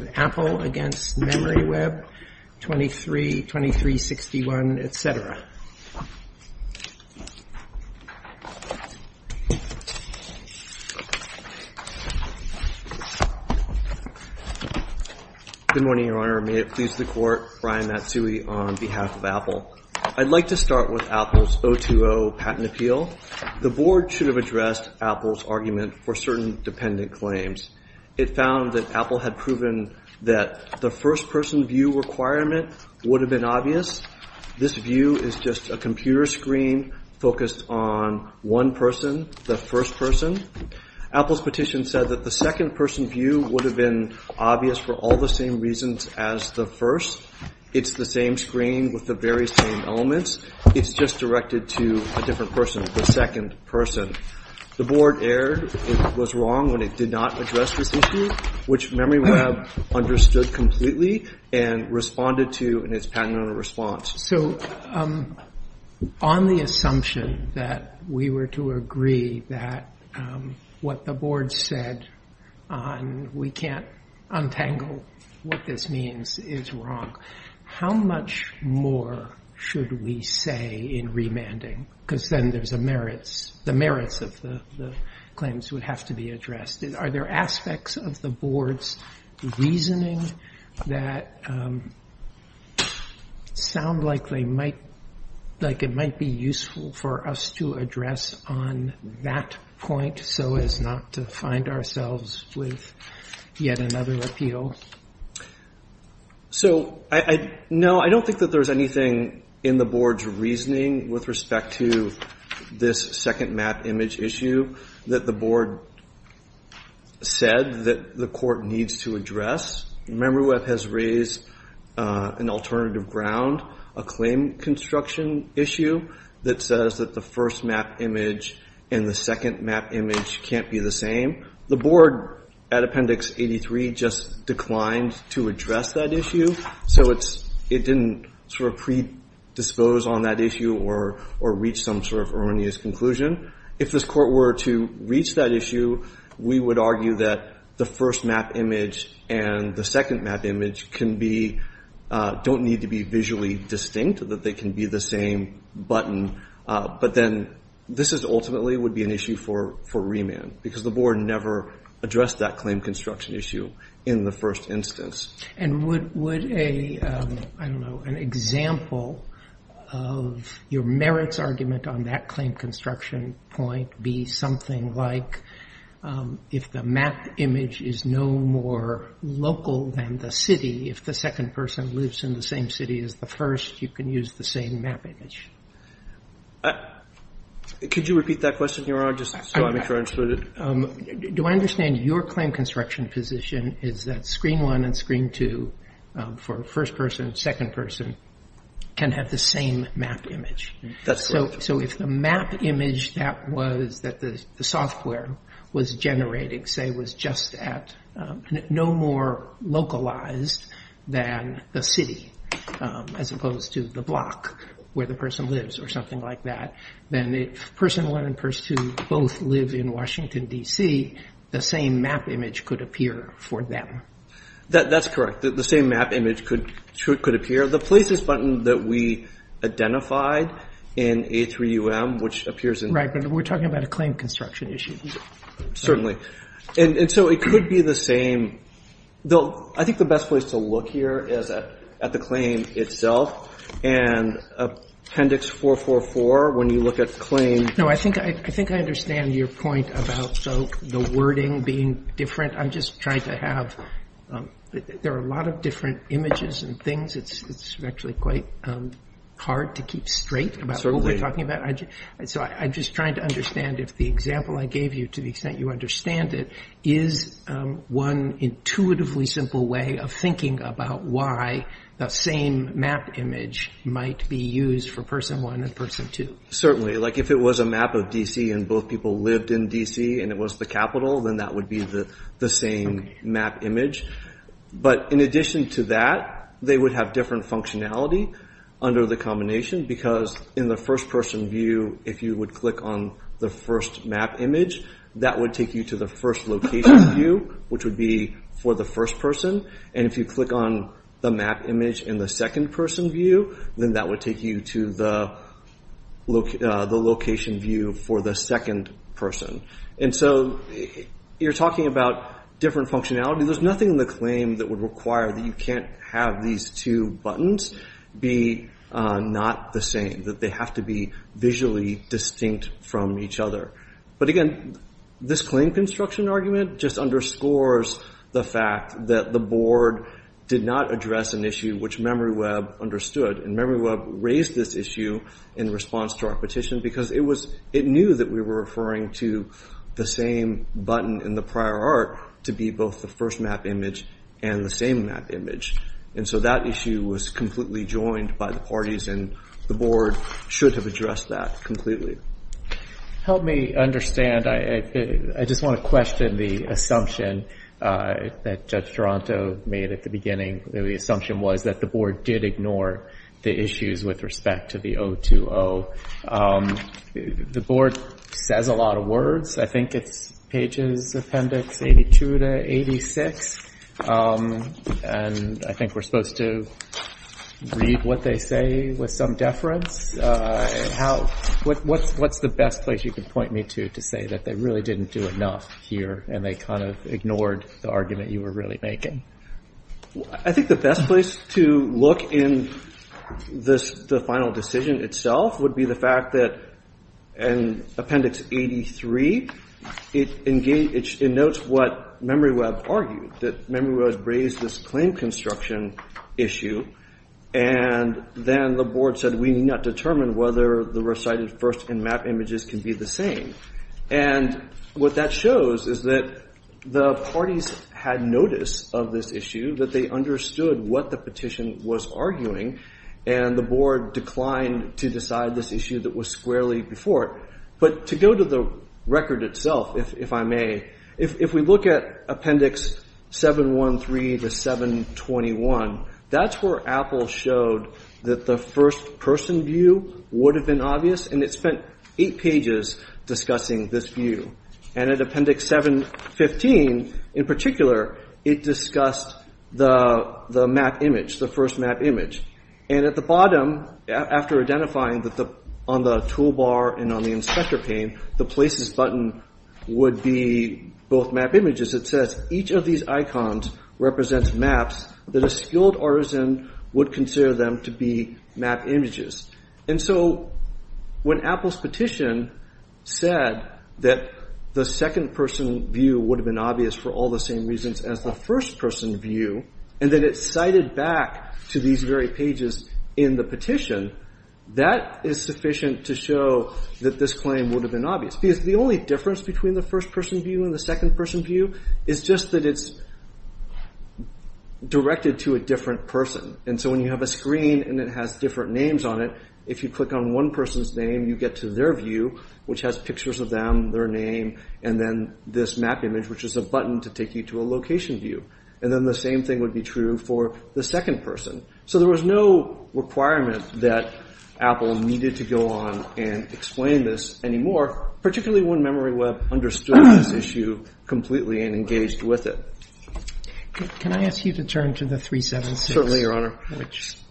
v. Apple, v. MemoryWeb, 2361, etc. Good morning, Your Honor. May it please the Court, Brian Matsui on behalf of Apple. I'd like to start with Apple's 020 patent appeal. The Board should have addressed Apple's argument for certain dependent claims. It found that Apple had proven that the first-person view requirement would have been obvious. This view is just a computer screen focused on one person, the first person. Apple's petition said that the second-person view would have been obvious for all the same reasons as the first. It's the same screen with the very same elements. It's just directed to a different person, the second person. The Board erred. It was wrong when it did not address this issue, which MemoryWeb understood completely and responded to in its patent owner response. On the assumption that we were to agree that what the Board said on we can't untangle what this means is wrong, how much more should we say in remanding? Because then there's the merits of the claims would have to be addressed. Are there aspects of the Board's reasoning that sound like it might be useful for us to address on that point so as not to ourselves with yet another appeal? I don't think that there's anything in the Board's reasoning with respect to this second map image issue that the Board said that the Court needs to address. MemoryWeb has raised an alternative ground, a claim construction issue that says the first map image and the second map image can't be the same. The Board at Appendix 83 just declined to address that issue, so it didn't predispose on that issue or reach some erroneous conclusion. If this Court were to reach that issue, we would argue that the first map image and the second map image don't need to be visually distinct, that they can be the same button, but then this ultimately would be an issue for remand because the Board never addressed that claim construction issue in the first instance. Would an example of your merits argument on that claim construction point be something like if the map image is no more local than the city, if the second person lives in the same city as the first, you can use the same map image? Could you repeat that question, Your Honor, just so I'm sure I understood it? Do I understand your claim construction position is that screen one and screen two for first person and second person can have the same map image? That's correct. So if the map image that the software was generating, say, was just at no more localized than the city as opposed to the block where the person lives or something like that, then if person one and person two both live in Washington, D.C., the same map image could appear for them? That's correct. The same map image could appear. The places button that we identified in A3UM, which appears in... Right, but we're talking about a claim construction issue. Certainly, and so it could be the same. I think the best place to look here is at the claim itself. And Appendix 444, when you look at the claim... No, I think I understand your point about the wording being different. I'm just trying to have... There are a lot of different images and things. It's actually quite hard to keep straight about what we're talking about. So I'm just trying to understand if the example I gave you, to the extent you understand it, is one intuitively simple way of thinking about why that same map image might be used for person one and person two. Certainly. If it was a map of D.C. and both people lived in D.C. and it was the capital, then that would be the same map image. But in addition to that, they would have different functionality under the combination because in the first person view, if you would on the first map image, that would take you to the first location view, which would be for the first person. And if you click on the map image in the second person view, then that would take you to the location view for the second person. And so you're talking about different functionality. There's nothing in the claim that would require that you can't have these two buttons be not the same, that they have to be visually distinct from each other. But again, this claim construction argument just underscores the fact that the board did not address an issue which MemoryWeb understood. And MemoryWeb raised this issue in response to our petition because it knew that we were referring to the same button in the prior art to be both the first map image and the same map image. And so that issue was completely joined by the parties and the board should have addressed that completely. Help me understand. I just want to question the assumption that Judge Toronto made at the beginning. The assumption was that the board did ignore the issues with respect to 020. The board says a lot of words. I think it's pages appendix 82 to 86. And I think we're supposed to read what they say with some deference. What's the best place you can point me to to say that they really didn't do enough here and they kind of ignored the argument you were really making? I think the best place to look in the final decision itself would be the fact that in appendix 83, it notes what MemoryWeb argued. That MemoryWeb raised this claim construction issue and then the board said we need not determine whether the recited first and map images can be the same. And what that shows is that the parties had notice of this issue, that they understood what the petition was arguing and the board declined to decide this issue that was squarely before. But to go to the record itself, if I may, if we look at appendix 713 to 721, that's where Apple showed that the first person view would have been obvious and it spent eight pages discussing this view. And at appendix 715, in particular, it discussed the map image, the first map image. And at the bottom, after identifying that on the toolbar and on the inspector pane, the places button would be both map images. It says each of these icons represents maps that a would consider them to be map images. And so when Apple's petition said that the second person view would have been obvious for all the same reasons as the first person view, and then it cited back to these very pages in the petition, that is sufficient to show that this claim would have been obvious. Because the only difference between the first person view and the second person view is just that it's directed to a different person. And so when you have a screen and it has different names on it, if you click on one person's name, you get to their view, which has pictures of them, their name, and then this map image, which is a button to take you to a location view. And then the same thing would be true for the second person. So there was no requirement that Apple needed to go on and explain this anymore, particularly when MemoryWeb understood this issue completely and engaged with it. Can I ask you to turn to the 376? Certainly, Your Honor.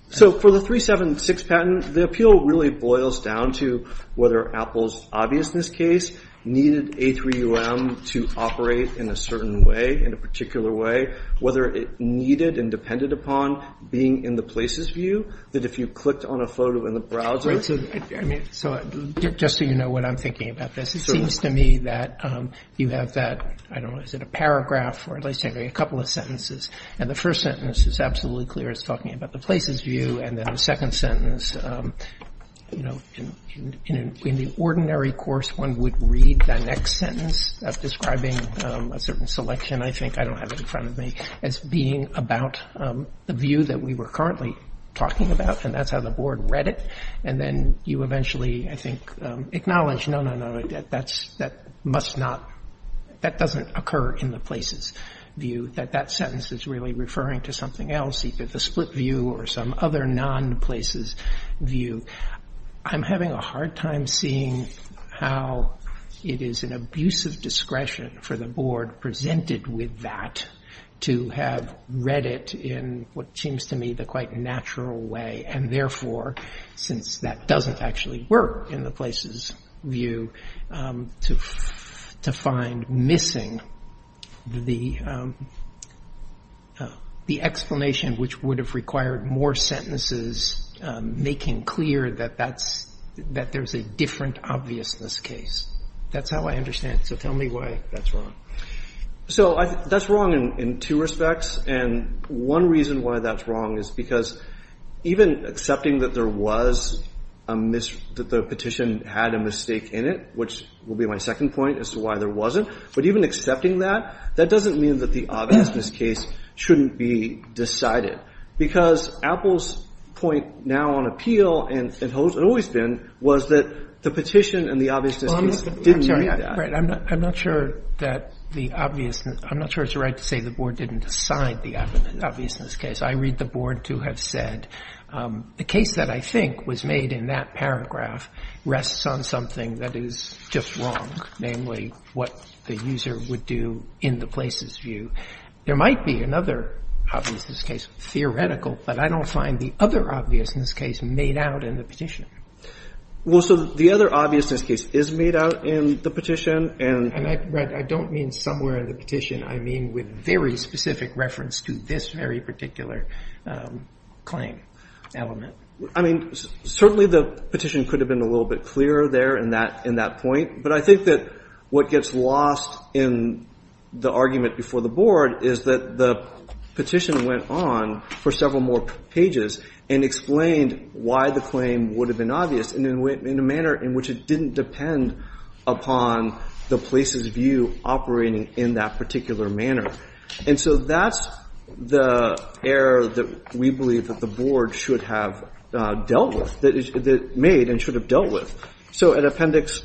So for the 376 patent, the appeal really boils down to whether Apple's obviousness case needed A3UM to operate in a certain way, in a particular way, whether it needed and depended upon being in the places view, that if you clicked on a photo in the browser... So just so you know what I'm thinking about this, it seems to me that you have that, I don't know, is it a paragraph or at least a couple of sentences. And the first sentence is absolutely clear. It's talking about the places view. And then the second sentence, in the ordinary course, one would read the next sentence describing a certain selection, I think, I don't have it in front of me, as being about the view that we were currently talking about. And that's how the board read it. And then you eventually, I think, acknowledge, no, no, no, that must not, that doesn't occur in the places view, that that sentence is really referring to something else, either the split view or some other non-places view. I'm having a hard time seeing how it is an abusive discretion for the board presented with that to have read it in what seems to me a quite natural way. And therefore, since that doesn't actually work in the places view, to find missing the explanation, which would have required more sentences, making clear that there's a different obviousness case. That's how I understand it. So tell me why that's wrong. So that's wrong in two respects. And one reason why that's wrong is because even accepting that there was a miss, that the petition had a mistake in it, which will be my second point as to why there wasn't. But even accepting that, that doesn't mean that the obviousness case shouldn't be decided. Because Apple's point now on appeal, and it always been, was that the petition and the obviousness case didn't do that. Roberts. I'm sorry. I'm not sure that the obviousness, I'm not sure it's right to say the board didn't decide the obviousness case. I read the board to have said the case that I think was made in that paragraph rests on something that is just wrong, namely what the user would do in the places view. There might be another obviousness case, theoretical, but I don't find the other obviousness case made out in the petition. Well, so the other obviousness case is made out in the petition and... And I don't mean somewhere in the petition. I mean with very specific reference to this very particular claim element. I mean, certainly the petition could have been a little bit clearer there in that point. But I think that what gets lost in the argument before the board is that the petition went on for several more pages and explained why the claim would have been obvious in a manner in which it didn't depend upon the places view operating in that particular manner. And so that's the error that we believe that the board should have dealt with, that it made and should have dealt with. So at appendix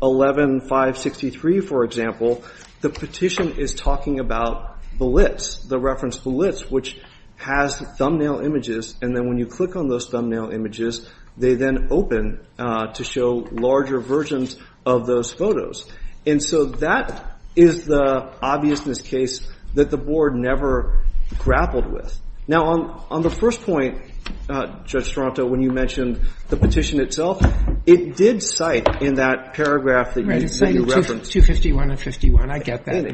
11-563, for example, the petition is talking about Blitz, the reference Blitz, which has thumbnail images. And then when you click on those thumbnail images, they then open to show larger versions of those photos. And so that is the obviousness case that the board never grappled with. Now, on the first point, Judge Strato, when you mentioned the petition itself, it did cite in that paragraph that you referenced... And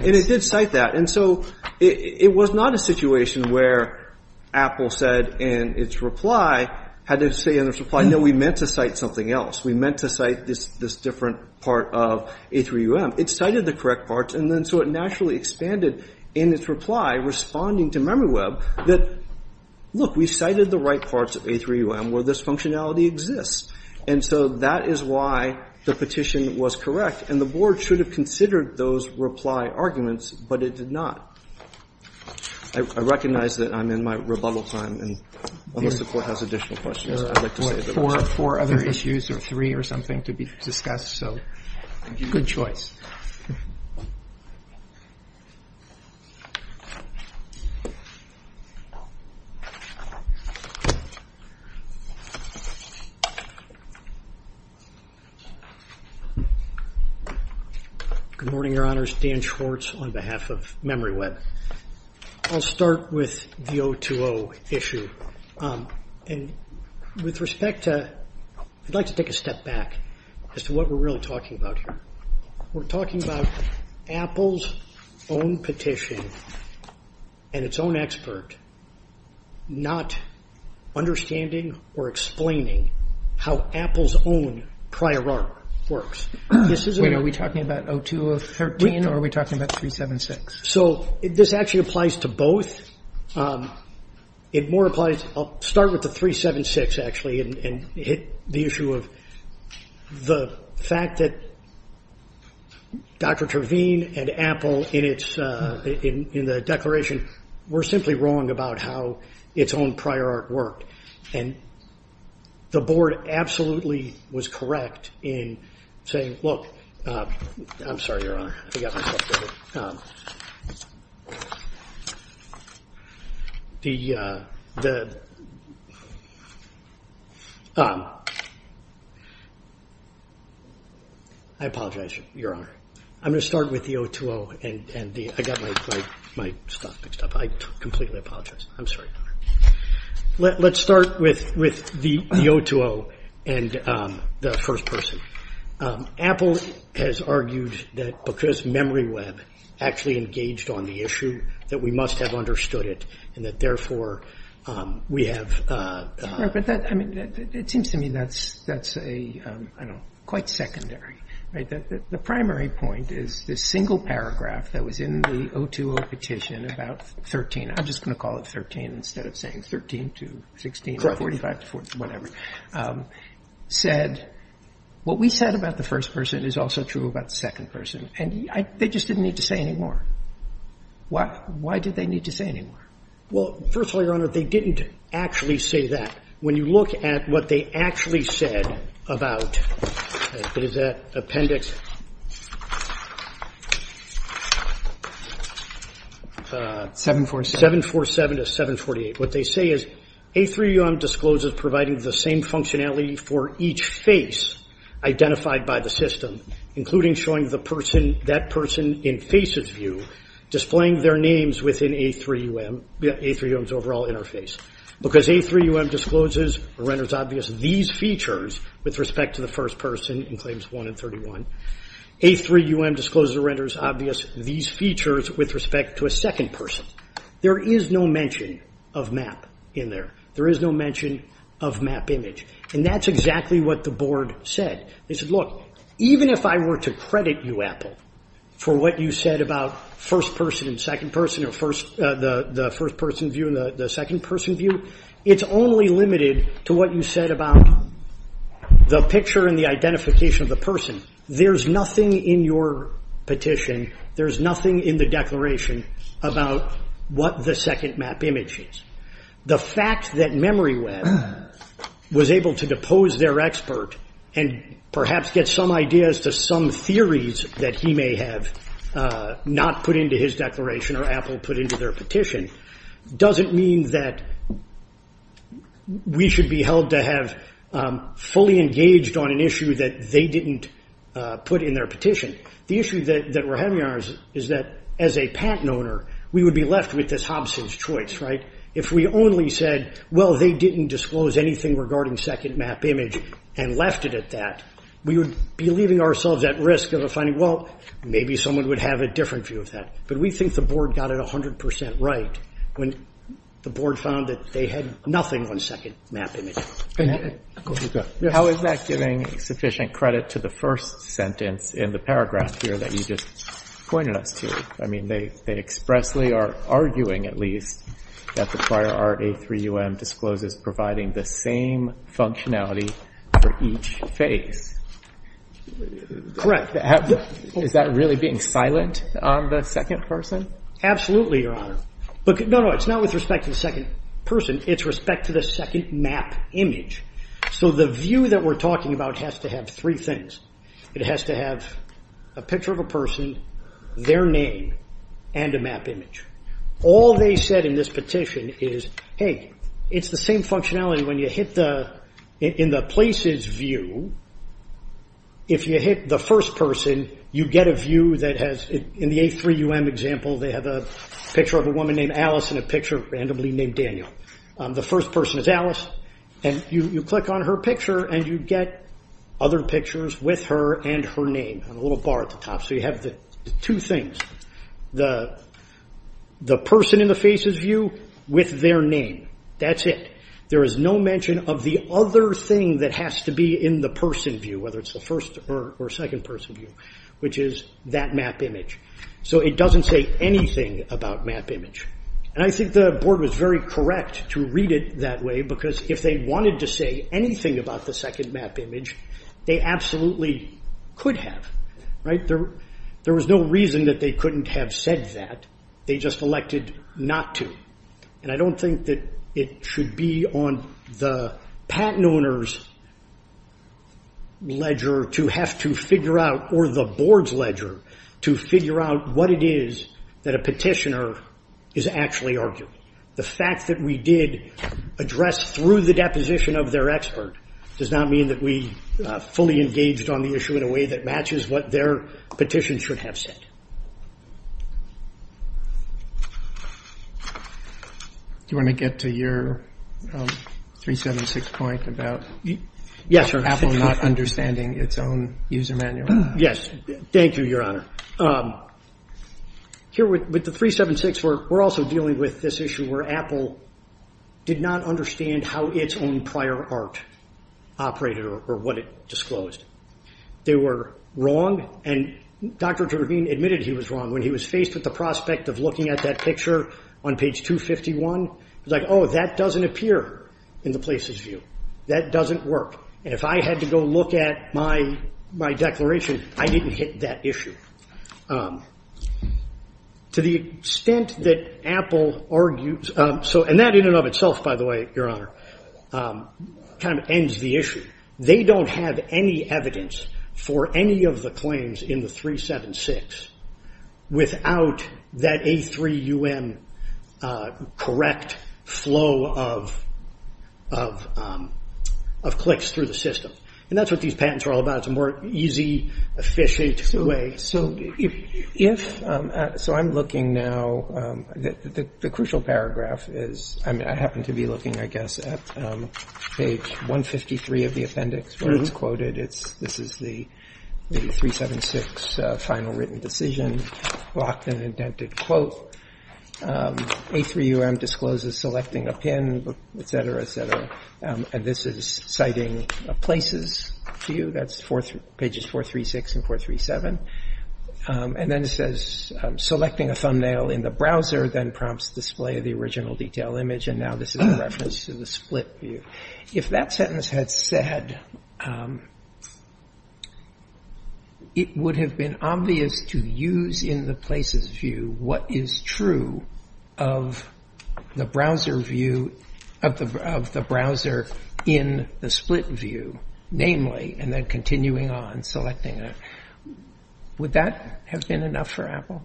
it did cite that. And so it was not a situation where Apple said in its reply, had to say in its reply, no, we meant to cite something else. We meant to cite this different part of A3UM. It cited the correct parts. And then so it naturally expanded in its reply, responding to MemoryWeb that, look, we cited the right parts of A3UM where this functionality exists. And so that is why the petition was correct. And the board should have considered those reply arguments, but it did not. I recognize that I'm in my rebuttal time, and unless the Court has additional questions, I'd like to say that... Good morning, Your Honors. Dan Schwartz on behalf of MemoryWeb. I'll start with the 020 issue. And with respect to... I'd like to take a step back as to what we're really talking about here. We're talking about Apple's own petition and its own expert not understanding or explaining how Apple's own prior art works. This isn't... Wait. Are we talking about 02013 or are we applying to both? It more applies... I'll start with the 376, actually, and hit the issue of the fact that Dr. Terveen and Apple, in the declaration, were simply wrong about how its own prior art worked. And the board absolutely was correct in saying, look... I'm sorry, Your Honor. I got my stuff mixed up. I apologize, Your Honor. I'm going to start with the 020 and the... I got my stuff mixed up. I completely apologize. I'm sorry, Your Honor. Let's start with the 020 and the first person. Apple has argued that because MemoryWeb actually engaged on the issue that we must have understood it and that therefore we have... It seems to me that's quite secondary. The primary point is this single paragraph that is in the 020 petition about 13... I'm just going to call it 13 instead of saying 13 to 16 or 45 to whatever... said what we said about the first person is also true about the second person. And they just didn't need to say any more. Why did they need to say any more? Well, first of all, Your Honor, they didn't actually say that. When you look at what they actually said about... What is that appendix? 747 to 748. What they say is, A3UM discloses providing the same functionality for each face identified by the system, including showing that person in FACES view displaying their names within A3UM's overall interface. Because A3UM discloses or renders obvious these features with respect to the first person in Claims 1 and 31. A3UM discloses or renders obvious these features with respect to a second person. There is no mention of map in there. There is no mention of map image. And that's exactly what the board said. They said, look, even if I were to credit you, Apple, for what you said about first person and second person or the first person view and the second person view, it's only limited to what you said about the picture and the identification of the person. There's nothing in your petition, there's nothing in the declaration about what the second map image is. The fact that MemoryWeb was able to depose their expert and perhaps get some ideas to theories that he may have not put into his declaration or Apple put into their petition, doesn't mean that we should be held to have fully engaged on an issue that they didn't put in their petition. The issue that we're having is that as a patent owner, we would be left with this Hobson's choice, right? If we only said, well, they didn't disclose anything regarding second map image and left it at that, we would be leaving ourselves at risk of finding, well, maybe someone would have a different view of that. But we think the board got it 100% right when the board found that they had nothing on second map image. How is that giving sufficient credit to the first sentence in the paragraph here that you just pointed us to? I mean, they expressly are arguing, at least, that the prior art A3UM discloses providing the same functionality for each face. Correct. Is that really being silent on the second person? Absolutely, Your Honor. No, no, it's not with respect to the second person. It's respect to the second map image. So the view that we're talking about has to have three things. It has to have a picture of a person, their name, and a map image. All they said in this petition is, hey, it's the same functionality when you hit in the places view. If you hit the first person, you get a view that has, in the A3UM example, they have a picture of a woman named Alice and a picture randomly named Daniel. The first person is Alice, and you click on her picture, and you get other pictures with her and her name, a little bar at the top. So you have the two things, the person in the faces view with their name. That's it. There is no mention of the other thing that has to be in the person view, whether it's the first or second person view, which is that map image. So it doesn't say anything about map image. And I think the board was very correct to read it that way, because if they wanted to say anything about the second map image, they absolutely could have. There was no reason that they couldn't have said that. They just elected not to. And I don't think that it should be on the patent owner's ledger to have to figure out, or the board's ledger, to figure out what it is that a petitioner is actually arguing. The fact that we did address through the deposition of their expert does not mean that we fully engaged on the issue in a way that matches what their petition should have said. Do you want to get to your 376 point about Apple not understanding its own user manual? Yes. Thank you, Your Honor. Here with the 376, we're also dealing with this issue where Apple did not understand how its own prior art operated or what it disclosed. They were wrong, and Dr. Dravine admitted he was wrong when he was faced with the prospect of looking at that picture on page 251. He was like, oh, that doesn't appear in the place's view. That doesn't work. And if I had to go look at my declaration, I didn't hit that issue. So to the extent that Apple argues, and that in and of itself, by the way, Your Honor, kind of ends the issue. They don't have any evidence for any of the claims in the 376 without that A3UM correct flow of clicks through the system. And that's what these patents are about. It's a more easy, efficient way. So I'm looking now. The crucial paragraph is, I happen to be looking, I guess, at page 153 of the appendix where it's quoted. This is the 376 final written decision, locked and indented quote. A3UM discloses selecting a pin, et cetera, et cetera, pages 436 and 437. And then it says, selecting a thumbnail in the browser then prompts display of the original detail image. And now this is a reference to the split view. If that sentence had said, it would have been obvious to use in the place's view what is true of the browser view of the browser in the split view, namely, and then continuing on selecting. Would that have been enough for Apple?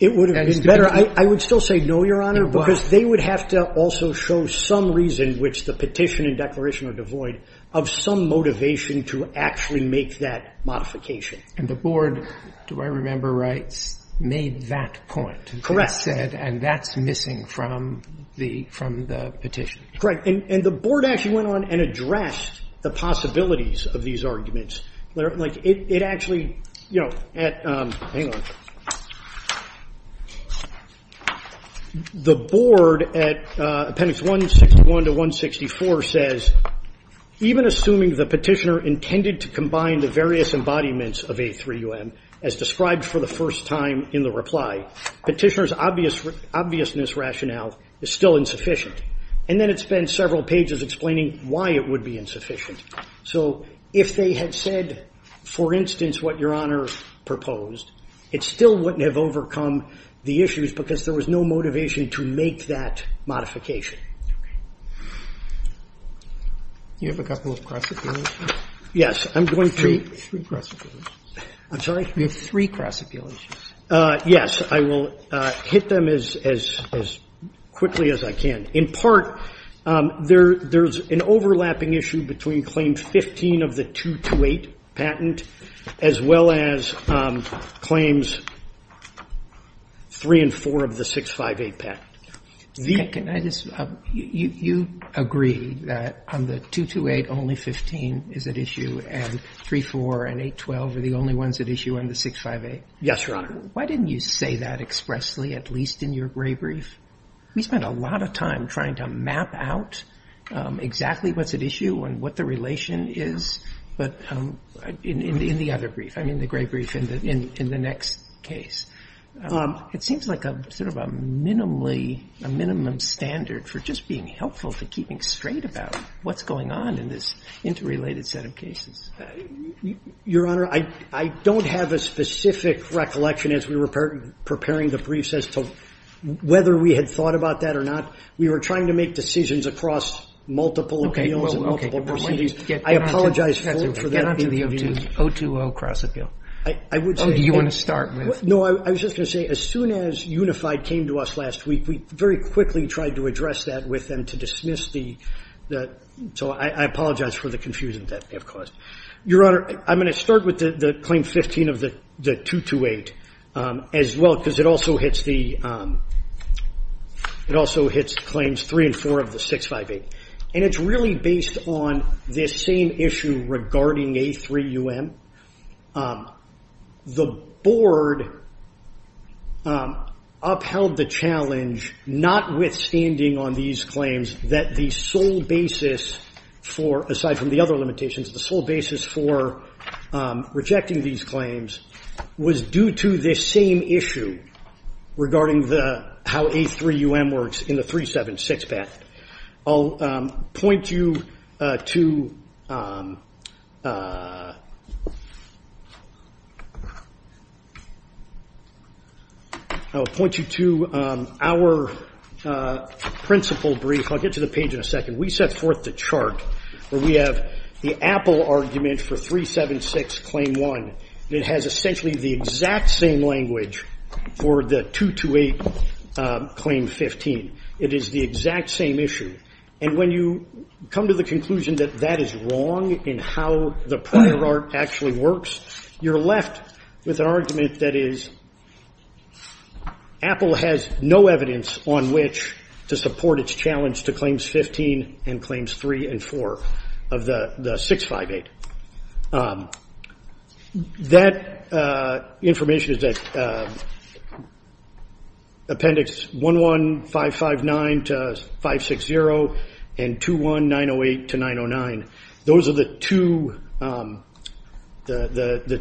It would have been better. I would still say no, Your Honor, because they would have to also show some reason, which the petition and declaration would avoid, of some motivation to actually make that modification. And the board, do I remember right, made that point. Correct. And that's missing from the petition. Correct. And the board actually went on and addressed the possibilities of these arguments. The board at appendix 161 to 164 says, even assuming the petitioner intended to combine the various embodiments of A3UM as described for the first time in the reply, petitioner's obviousness rationale is still insufficient. And then it spends several pages explaining why it would be insufficient. So if they had said, for instance, what Your Honor proposed, it still wouldn't have overcome the issues because there was no motivation to make that modification. You have a couple of cross-appeal issues? Yes. I'm going to. Three cross-appeal issues. I'm sorry? You have three cross-appeal issues. Yes. I will hit them as quickly as I can. In part, there's an overlapping issue between Claim 15 of the 228 patent as well as Claims 3 and 4 of the 658 patent. Can I just – you agree that on the 228 only 15 is at issue and 3, 4 and 8, 12 are the only ones at issue on the 658? Yes, Your Honor. Why didn't you say that expressly, at least in your gray brief? We spent a lot of time trying to map out exactly what's at issue and what the relation is. But in the other brief, I mean the gray brief in the next case, it seems like sort of a minimum standard for just being helpful to keeping straight about what's going on in this interrelated set of cases. Your Honor, I don't have a specific recollection as we were preparing the briefs as to whether we had thought about that or not. We were trying to make decisions across multiple appeals and multiple proceedings. I apologize for that interview. Get on to the 020 cross-appeal. Oh, do you want to start with? No, I was just going to say as soon as Unified came to us last week, we very quickly tried to address that with them to dismiss that. So I apologize for the confusion that we have caused. Your Honor, I'm going to start with the Claim 15 of the 228 as well because it also hits the Claims 3 and 4 of the 658. And it's really based on this same issue regarding A3UM. The Board upheld the challenge notwithstanding on these claims that the sole basis for, aside from the other limitations, the sole basis for rejecting these claims was due to this same issue regarding how A3UM works in the 376 patent. I'll point you to our principal brief. I'll get to the page in a second. We set forth the chart where we have the Apple argument for 376, Claim 1. It has essentially the exact same language for the 228 Claim 15. It is the exact same issue. And when you come to the conclusion that that is wrong in how the prior art actually works, you're left with an argument that is Apple has no evidence on which to support its challenge to Claims 15 and Claims 3 and 4 of the 658. That information is that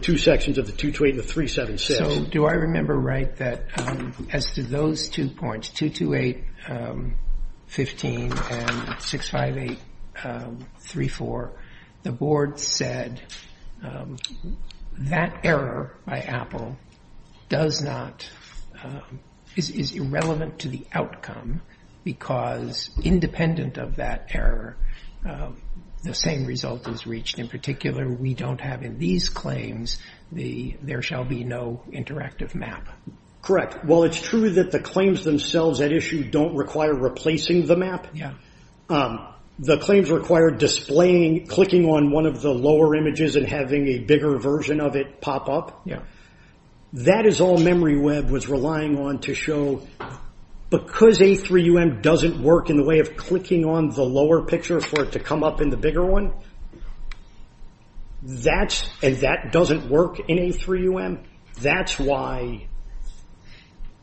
two sections of the 228 and the 376. So do I remember right that as to those two points, 228 15 and 658 34, the Board said that error by Apple does not, is irrelevant to the outcome because independent of that error, the same result is reached. In particular, we don't have in these claims, there shall be no interactive map. Correct. While it's true that the claims themselves at issue don't require replacing the map, the claims require displaying, clicking on one of the lower images and having a bigger version of pop up. That is all MemoryWeb was relying on to show. Because A3UM doesn't work in the way of clicking on the lower picture for it to come up in the bigger one, and that doesn't work in A3UM, that's why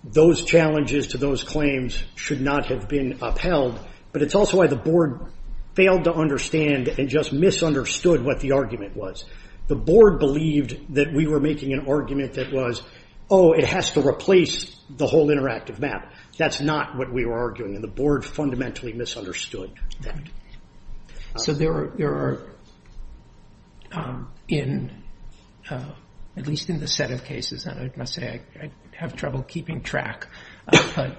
those challenges to those claims should not have been upheld. But it's also why the Board failed to understand and just misunderstood what the argument was. The Board believed that we were making an argument that was, oh, it has to replace the whole interactive map. That's not what we were arguing, and the Board fundamentally misunderstood that. So there are, at least in the set of cases, and I must say I have trouble keeping track, but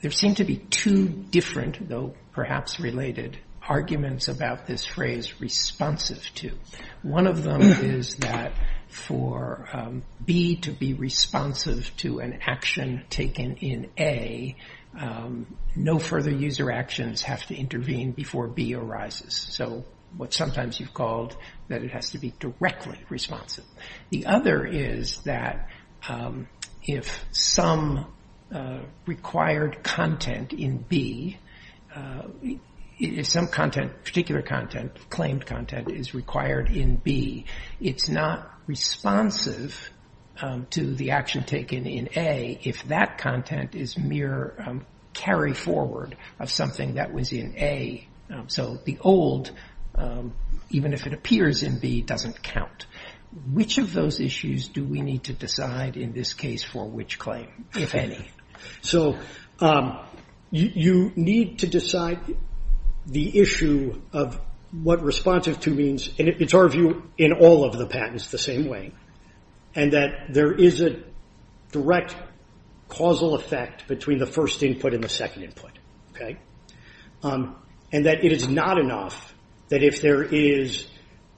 there seem to be two different, though perhaps related, arguments about this phrase responsive to. One of them is that for B to be responsive to an action taken in A, no further user actions have to intervene before B arises. So what sometimes you've called that it has to be directly responsive. The other is that if some required content in B, if some content, particular content, claimed content is required in B, it's not responsive to the action taken in A if that content is mere carry forward of something that was in A. So the old, even if it appears in B, doesn't count. Which of those issues do we need to decide in this case for which claim, if any? So you need to decide the issue of what responsive to means, and it's our view in all of the patents the same way, and that there is a direct causal effect between the first input and the second input, and that it is not enough that if there is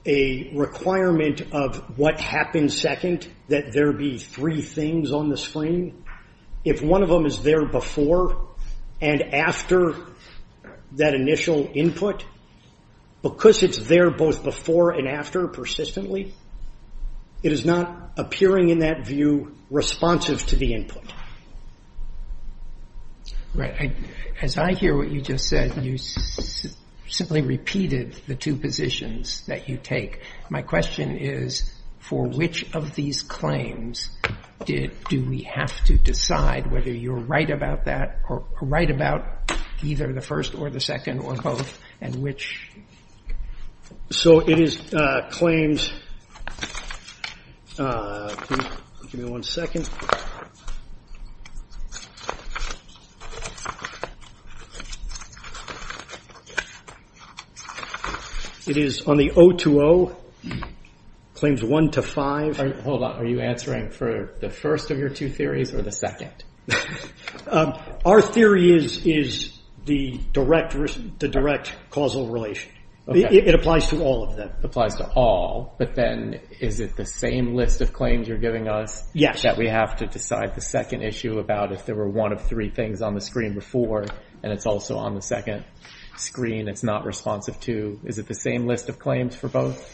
a requirement of what happens second, that there be three things on the screen. If one of them is there before and after that initial input, because it's there both before and after persistently, it is not appearing in that view responsive to the input. Right. As I hear what you just said, you simply repeated the two positions that you take. My question is, for which of these claims do we have to decide whether you're right about that, or right about either the first or the second or both, and which? So it is claims, give me one second. It is on the O to O, claims one to five. Hold on, are you answering for the first of your two theories or the second? Our theory is the direct causal relation. It applies to all of them. It applies to all, but then is it the same list of claims you're giving us that we have to decide the second issue about if there were one of three things on the screen before, and it's also on the second screen, it's not responsive to. Is it the same list of claims for both?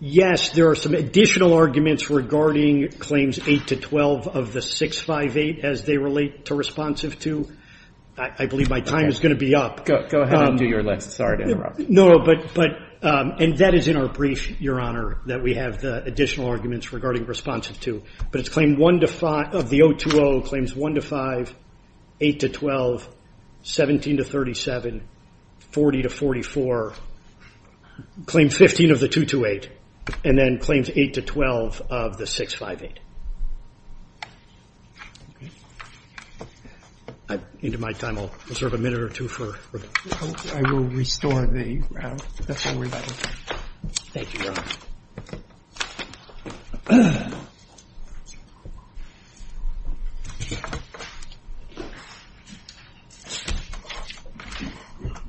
Yes, there are some additional arguments regarding claims eight to 12 of the 658 as they relate to responsive to. I believe my time is going to be up. Go ahead. I'll do your lecture. Sorry to interrupt. No, but, and that is in our brief, Your Honor, that we have the additional arguments regarding responsive to, but it's claim one to five of the O to O, claims one to five, eight to 12, 17 to 37, 40 to 44, claim 15 of the 228, and then claims eight to 12 of the 658. Into my time, I'll reserve a minute or two for... I will restore the... Thank you, Your Honor.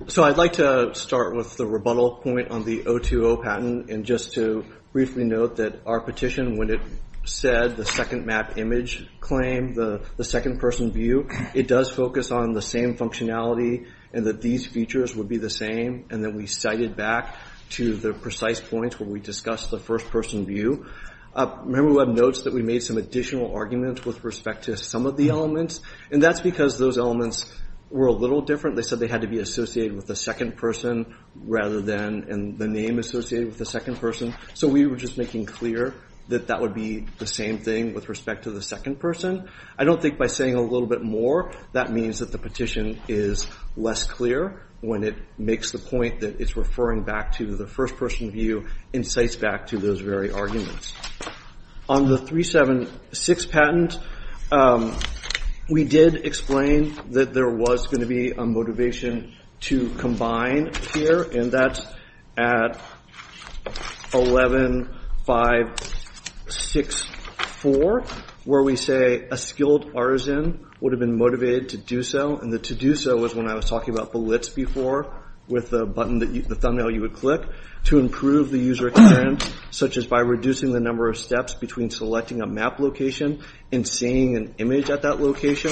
So I'd like to start with the rebuttal point on the O to O patent, and just to briefly note that our petition, when it said the second map image claim, the second person view, it does focus on the same functionality, and that these features would be the same, and then we cited back to the precise points where we discussed the first person view. Remember, we have notes that we made some additional arguments with respect to some of the elements, and that's because those elements were a with the second person, rather than in the name associated with the second person. So we were just making clear that that would be the same thing with respect to the second person. I don't think by saying a little bit more, that means that the petition is less clear when it makes the point that it's referring back to the first person view, incites back to those very arguments. On the 376 patent, we did explain that there was going to be a motivation to combine here, and that's at 11564, where we say a skilled artisan would have been motivated to do so, and the to do so was when I was talking about the blitz before, with the thumbnail you would click, to improve the user experience, such as by reducing the number of steps between selecting a map location and seeing an image at that location,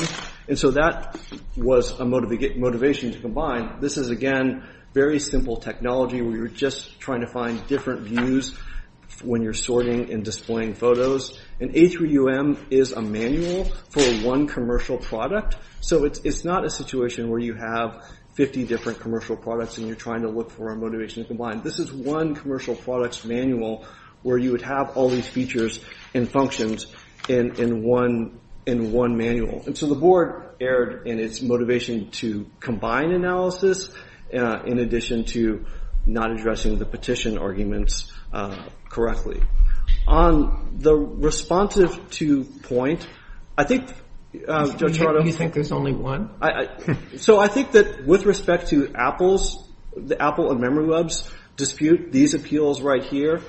and so that was a motivation to combine. This is, again, very simple technology. We were just trying to find different views when you're sorting and displaying photos, and A3UM is a manual for one commercial product, so it's not a situation where you have 50 different commercial products, and you're trying to look for a motivation to combine. This is one commercial products manual where you would have all these features and functions in one manual, and so the board erred in its motivation to combine analysis, in addition to not addressing the petition arguments correctly. On the responsive to point, I think, Joe Chardo, do you think there's only one? So I think that with respect to Apple's, the Apple and MemoryWeb's dispute, these appeals right here,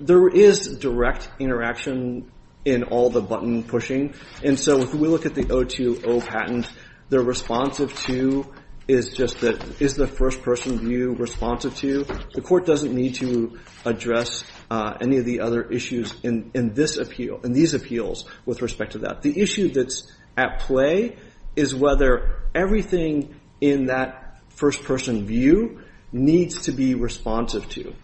there is direct interaction in all the button pushing, and so if we look at the O2O patent, the responsive to is just that, is the first person view responsive to? The court doesn't need to address any of the other issues in this appeal, in these appeals, with respect to that. The issue that's at play is whether everything in that first person view needs to be responsive to,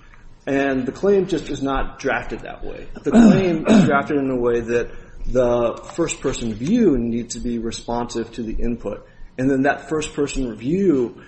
and the claim just is not drafted that way. The claim is drafted in a way that the first person view needs to be responsive to the input, and then that first person review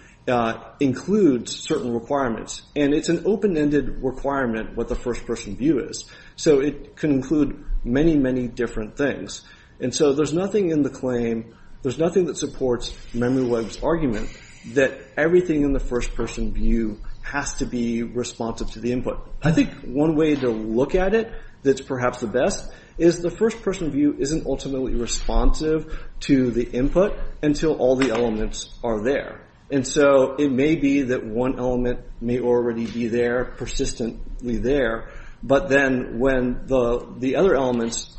includes certain requirements, and it's an open-ended requirement what the first person view is. So it can include many, many different things, and so there's nothing in the claim, there's nothing that supports MemoryWeb's argument that everything in the first person view has to be responsive to the input. I think one way to look at it that's perhaps the best is the first person view isn't ultimately responsive to the input until all the elements are there, and so it may be that one element may already be there persistently there, but then when the other elements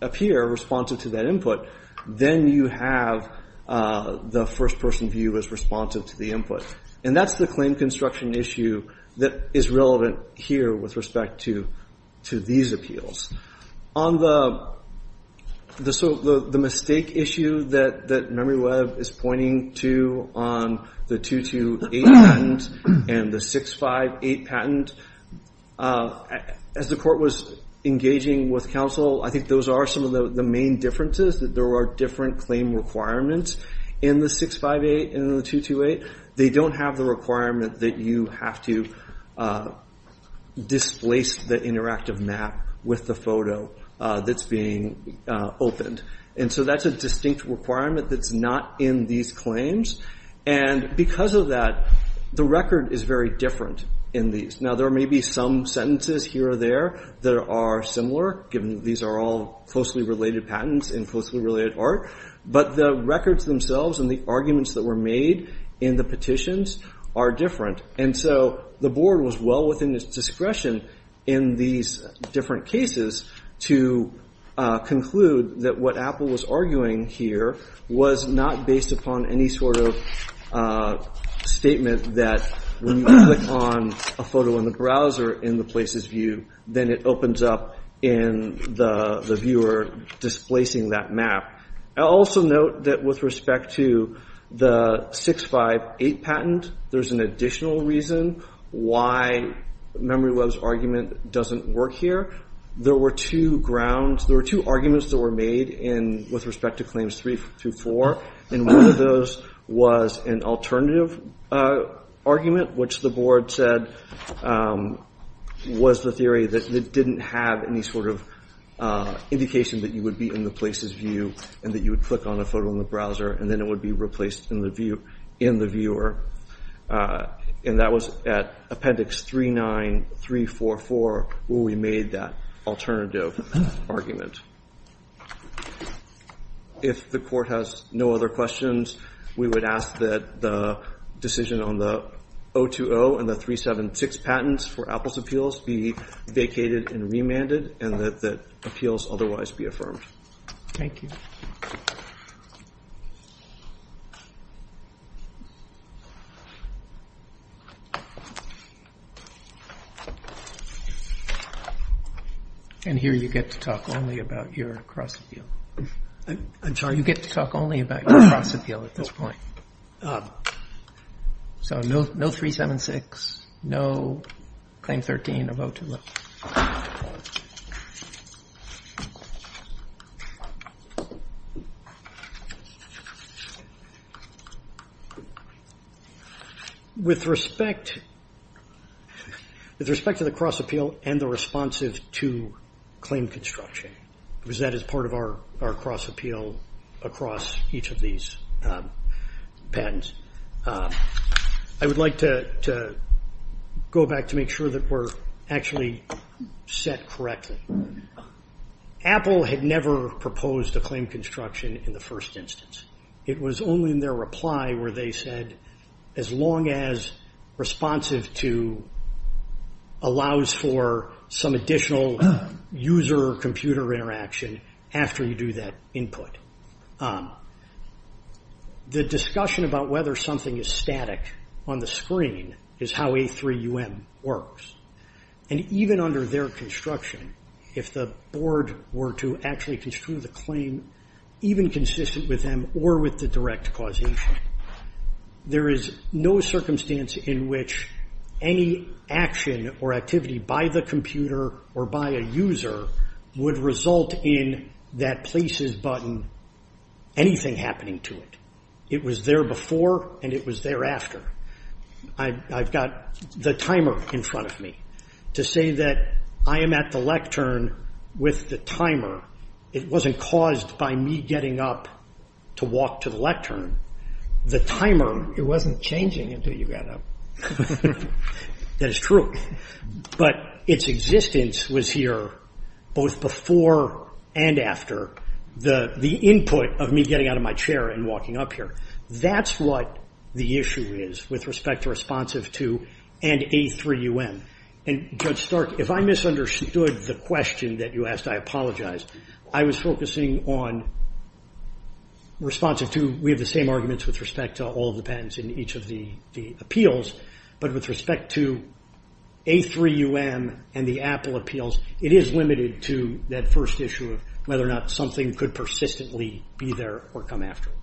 appear responsive to that input, then you have the first person view as responsive to the input. And that's the claim construction issue that is relevant here with respect to these appeals. On the mistake issue that MemoryWeb is pointing to on the 228 patent and the 658 patent, as the court was engaging with counsel, I think those are some of the main differences, that there are different claim requirements in the 658 and the 228. They don't have the requirement that you have to displace the interactive map with the photo that's being opened, and so that's a distinct requirement that's not in these claims, and because of that, the record is very different in these. Now there may be some sentences here or there that are similar, given these are all closely related patents and closely related art, but the records themselves and the arguments that were made in the petitions are different, and so the board was well within its discretion in these different cases to conclude that what Apple was arguing here was not based upon any sort of statement that when you click on a photo in the browser in the places view, then it opens up in the viewer displacing that map. I'll also note that with respect to the 658 patent, there's an additional reason why Memoryweb's argument doesn't work here. There were two grounds, there were two arguments that were made with respect to claims three through four, and one of those was an alternative argument, which the board said was the theory that it didn't have any sort of indication that you would be in the places view and that you would click on a photo in the browser and then it would be replaced in the viewer, and that was at appendix 39344 where we made that alternative argument. If the court has no other questions, we would ask that the decision on the 020 and the 376 patents for Apple's appeals be vacated and remanded and that appeals otherwise be affirmed. Thank you. And here you get to talk only about your cross appeal. You get to talk only about your cross appeal at this point. So no 376, no claim 13 of 020. With respect to the cross appeal and the responsive to claim construction, because that is part of our cross appeal across each of these, patents, I would like to go back to make sure that we're actually set correctly. Apple had never proposed a claim construction in the first instance. It was only in their reply where they said as long as responsive to allows for some additional user computer interaction after you do that input. The discussion about whether something is static on the screen is how A3UM works. And even under their construction, if the board were to actually construe the claim, even consistent with them or with the direct causation, there is no circumstance in which any action or activity by the computer or by a user would result in that places button, anything happening to it. It was there before and it was thereafter. I've got the timer in front of me. To say that I am at the lectern with the timer, it wasn't caused by me getting up to walk to the lectern. The timer, it wasn't changing until you got up. That is true. But its existence was here both before and after the input of me getting out of my chair and walking up here. That's what the issue is with respect to responsive to and A3UM. And Judge Stark, if I misunderstood the question that you asked, I apologize. I was focusing on responsive to, we have the same arguments with respect to all of the patents in each of the appeals. But with respect to A3UM and the Apple appeals, it is limited to that first issue of whether or not something could persistently be there or come afterwards.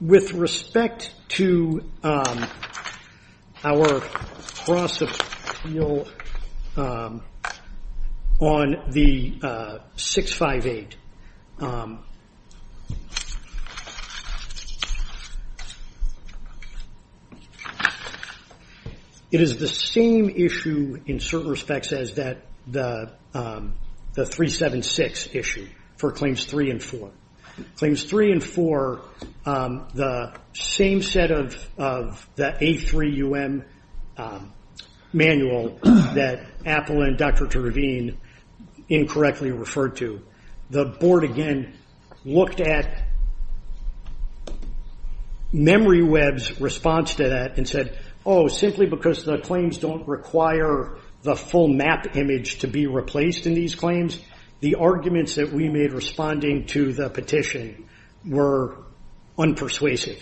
With respect to our cross-appeal on the 658, it is the same issue in certain respects as the 376 issue for Claims 3 and 4. Claims 3 and 4, the same set of the A3UM manual that Apple and Dr. Terveen incorrectly referred to, the board again looked at MemoryWeb's response to that and said, oh, simply because the claims don't require the full map image to be replaced in these claims, the arguments that we made responding to the petition were unpersuasive.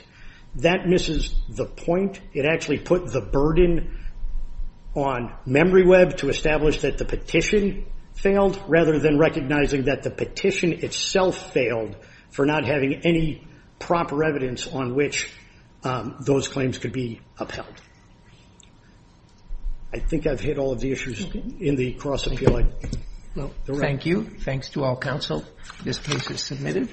That misses the point. It actually put the burden on MemoryWeb to establish that the petition failed rather than recognizing that the petition itself failed for not having any proper evidence on which those claims could be upheld. I think I've hit all of the issues in the cross-appeal. Thank you. Thanks to all counsel. This case is submitted.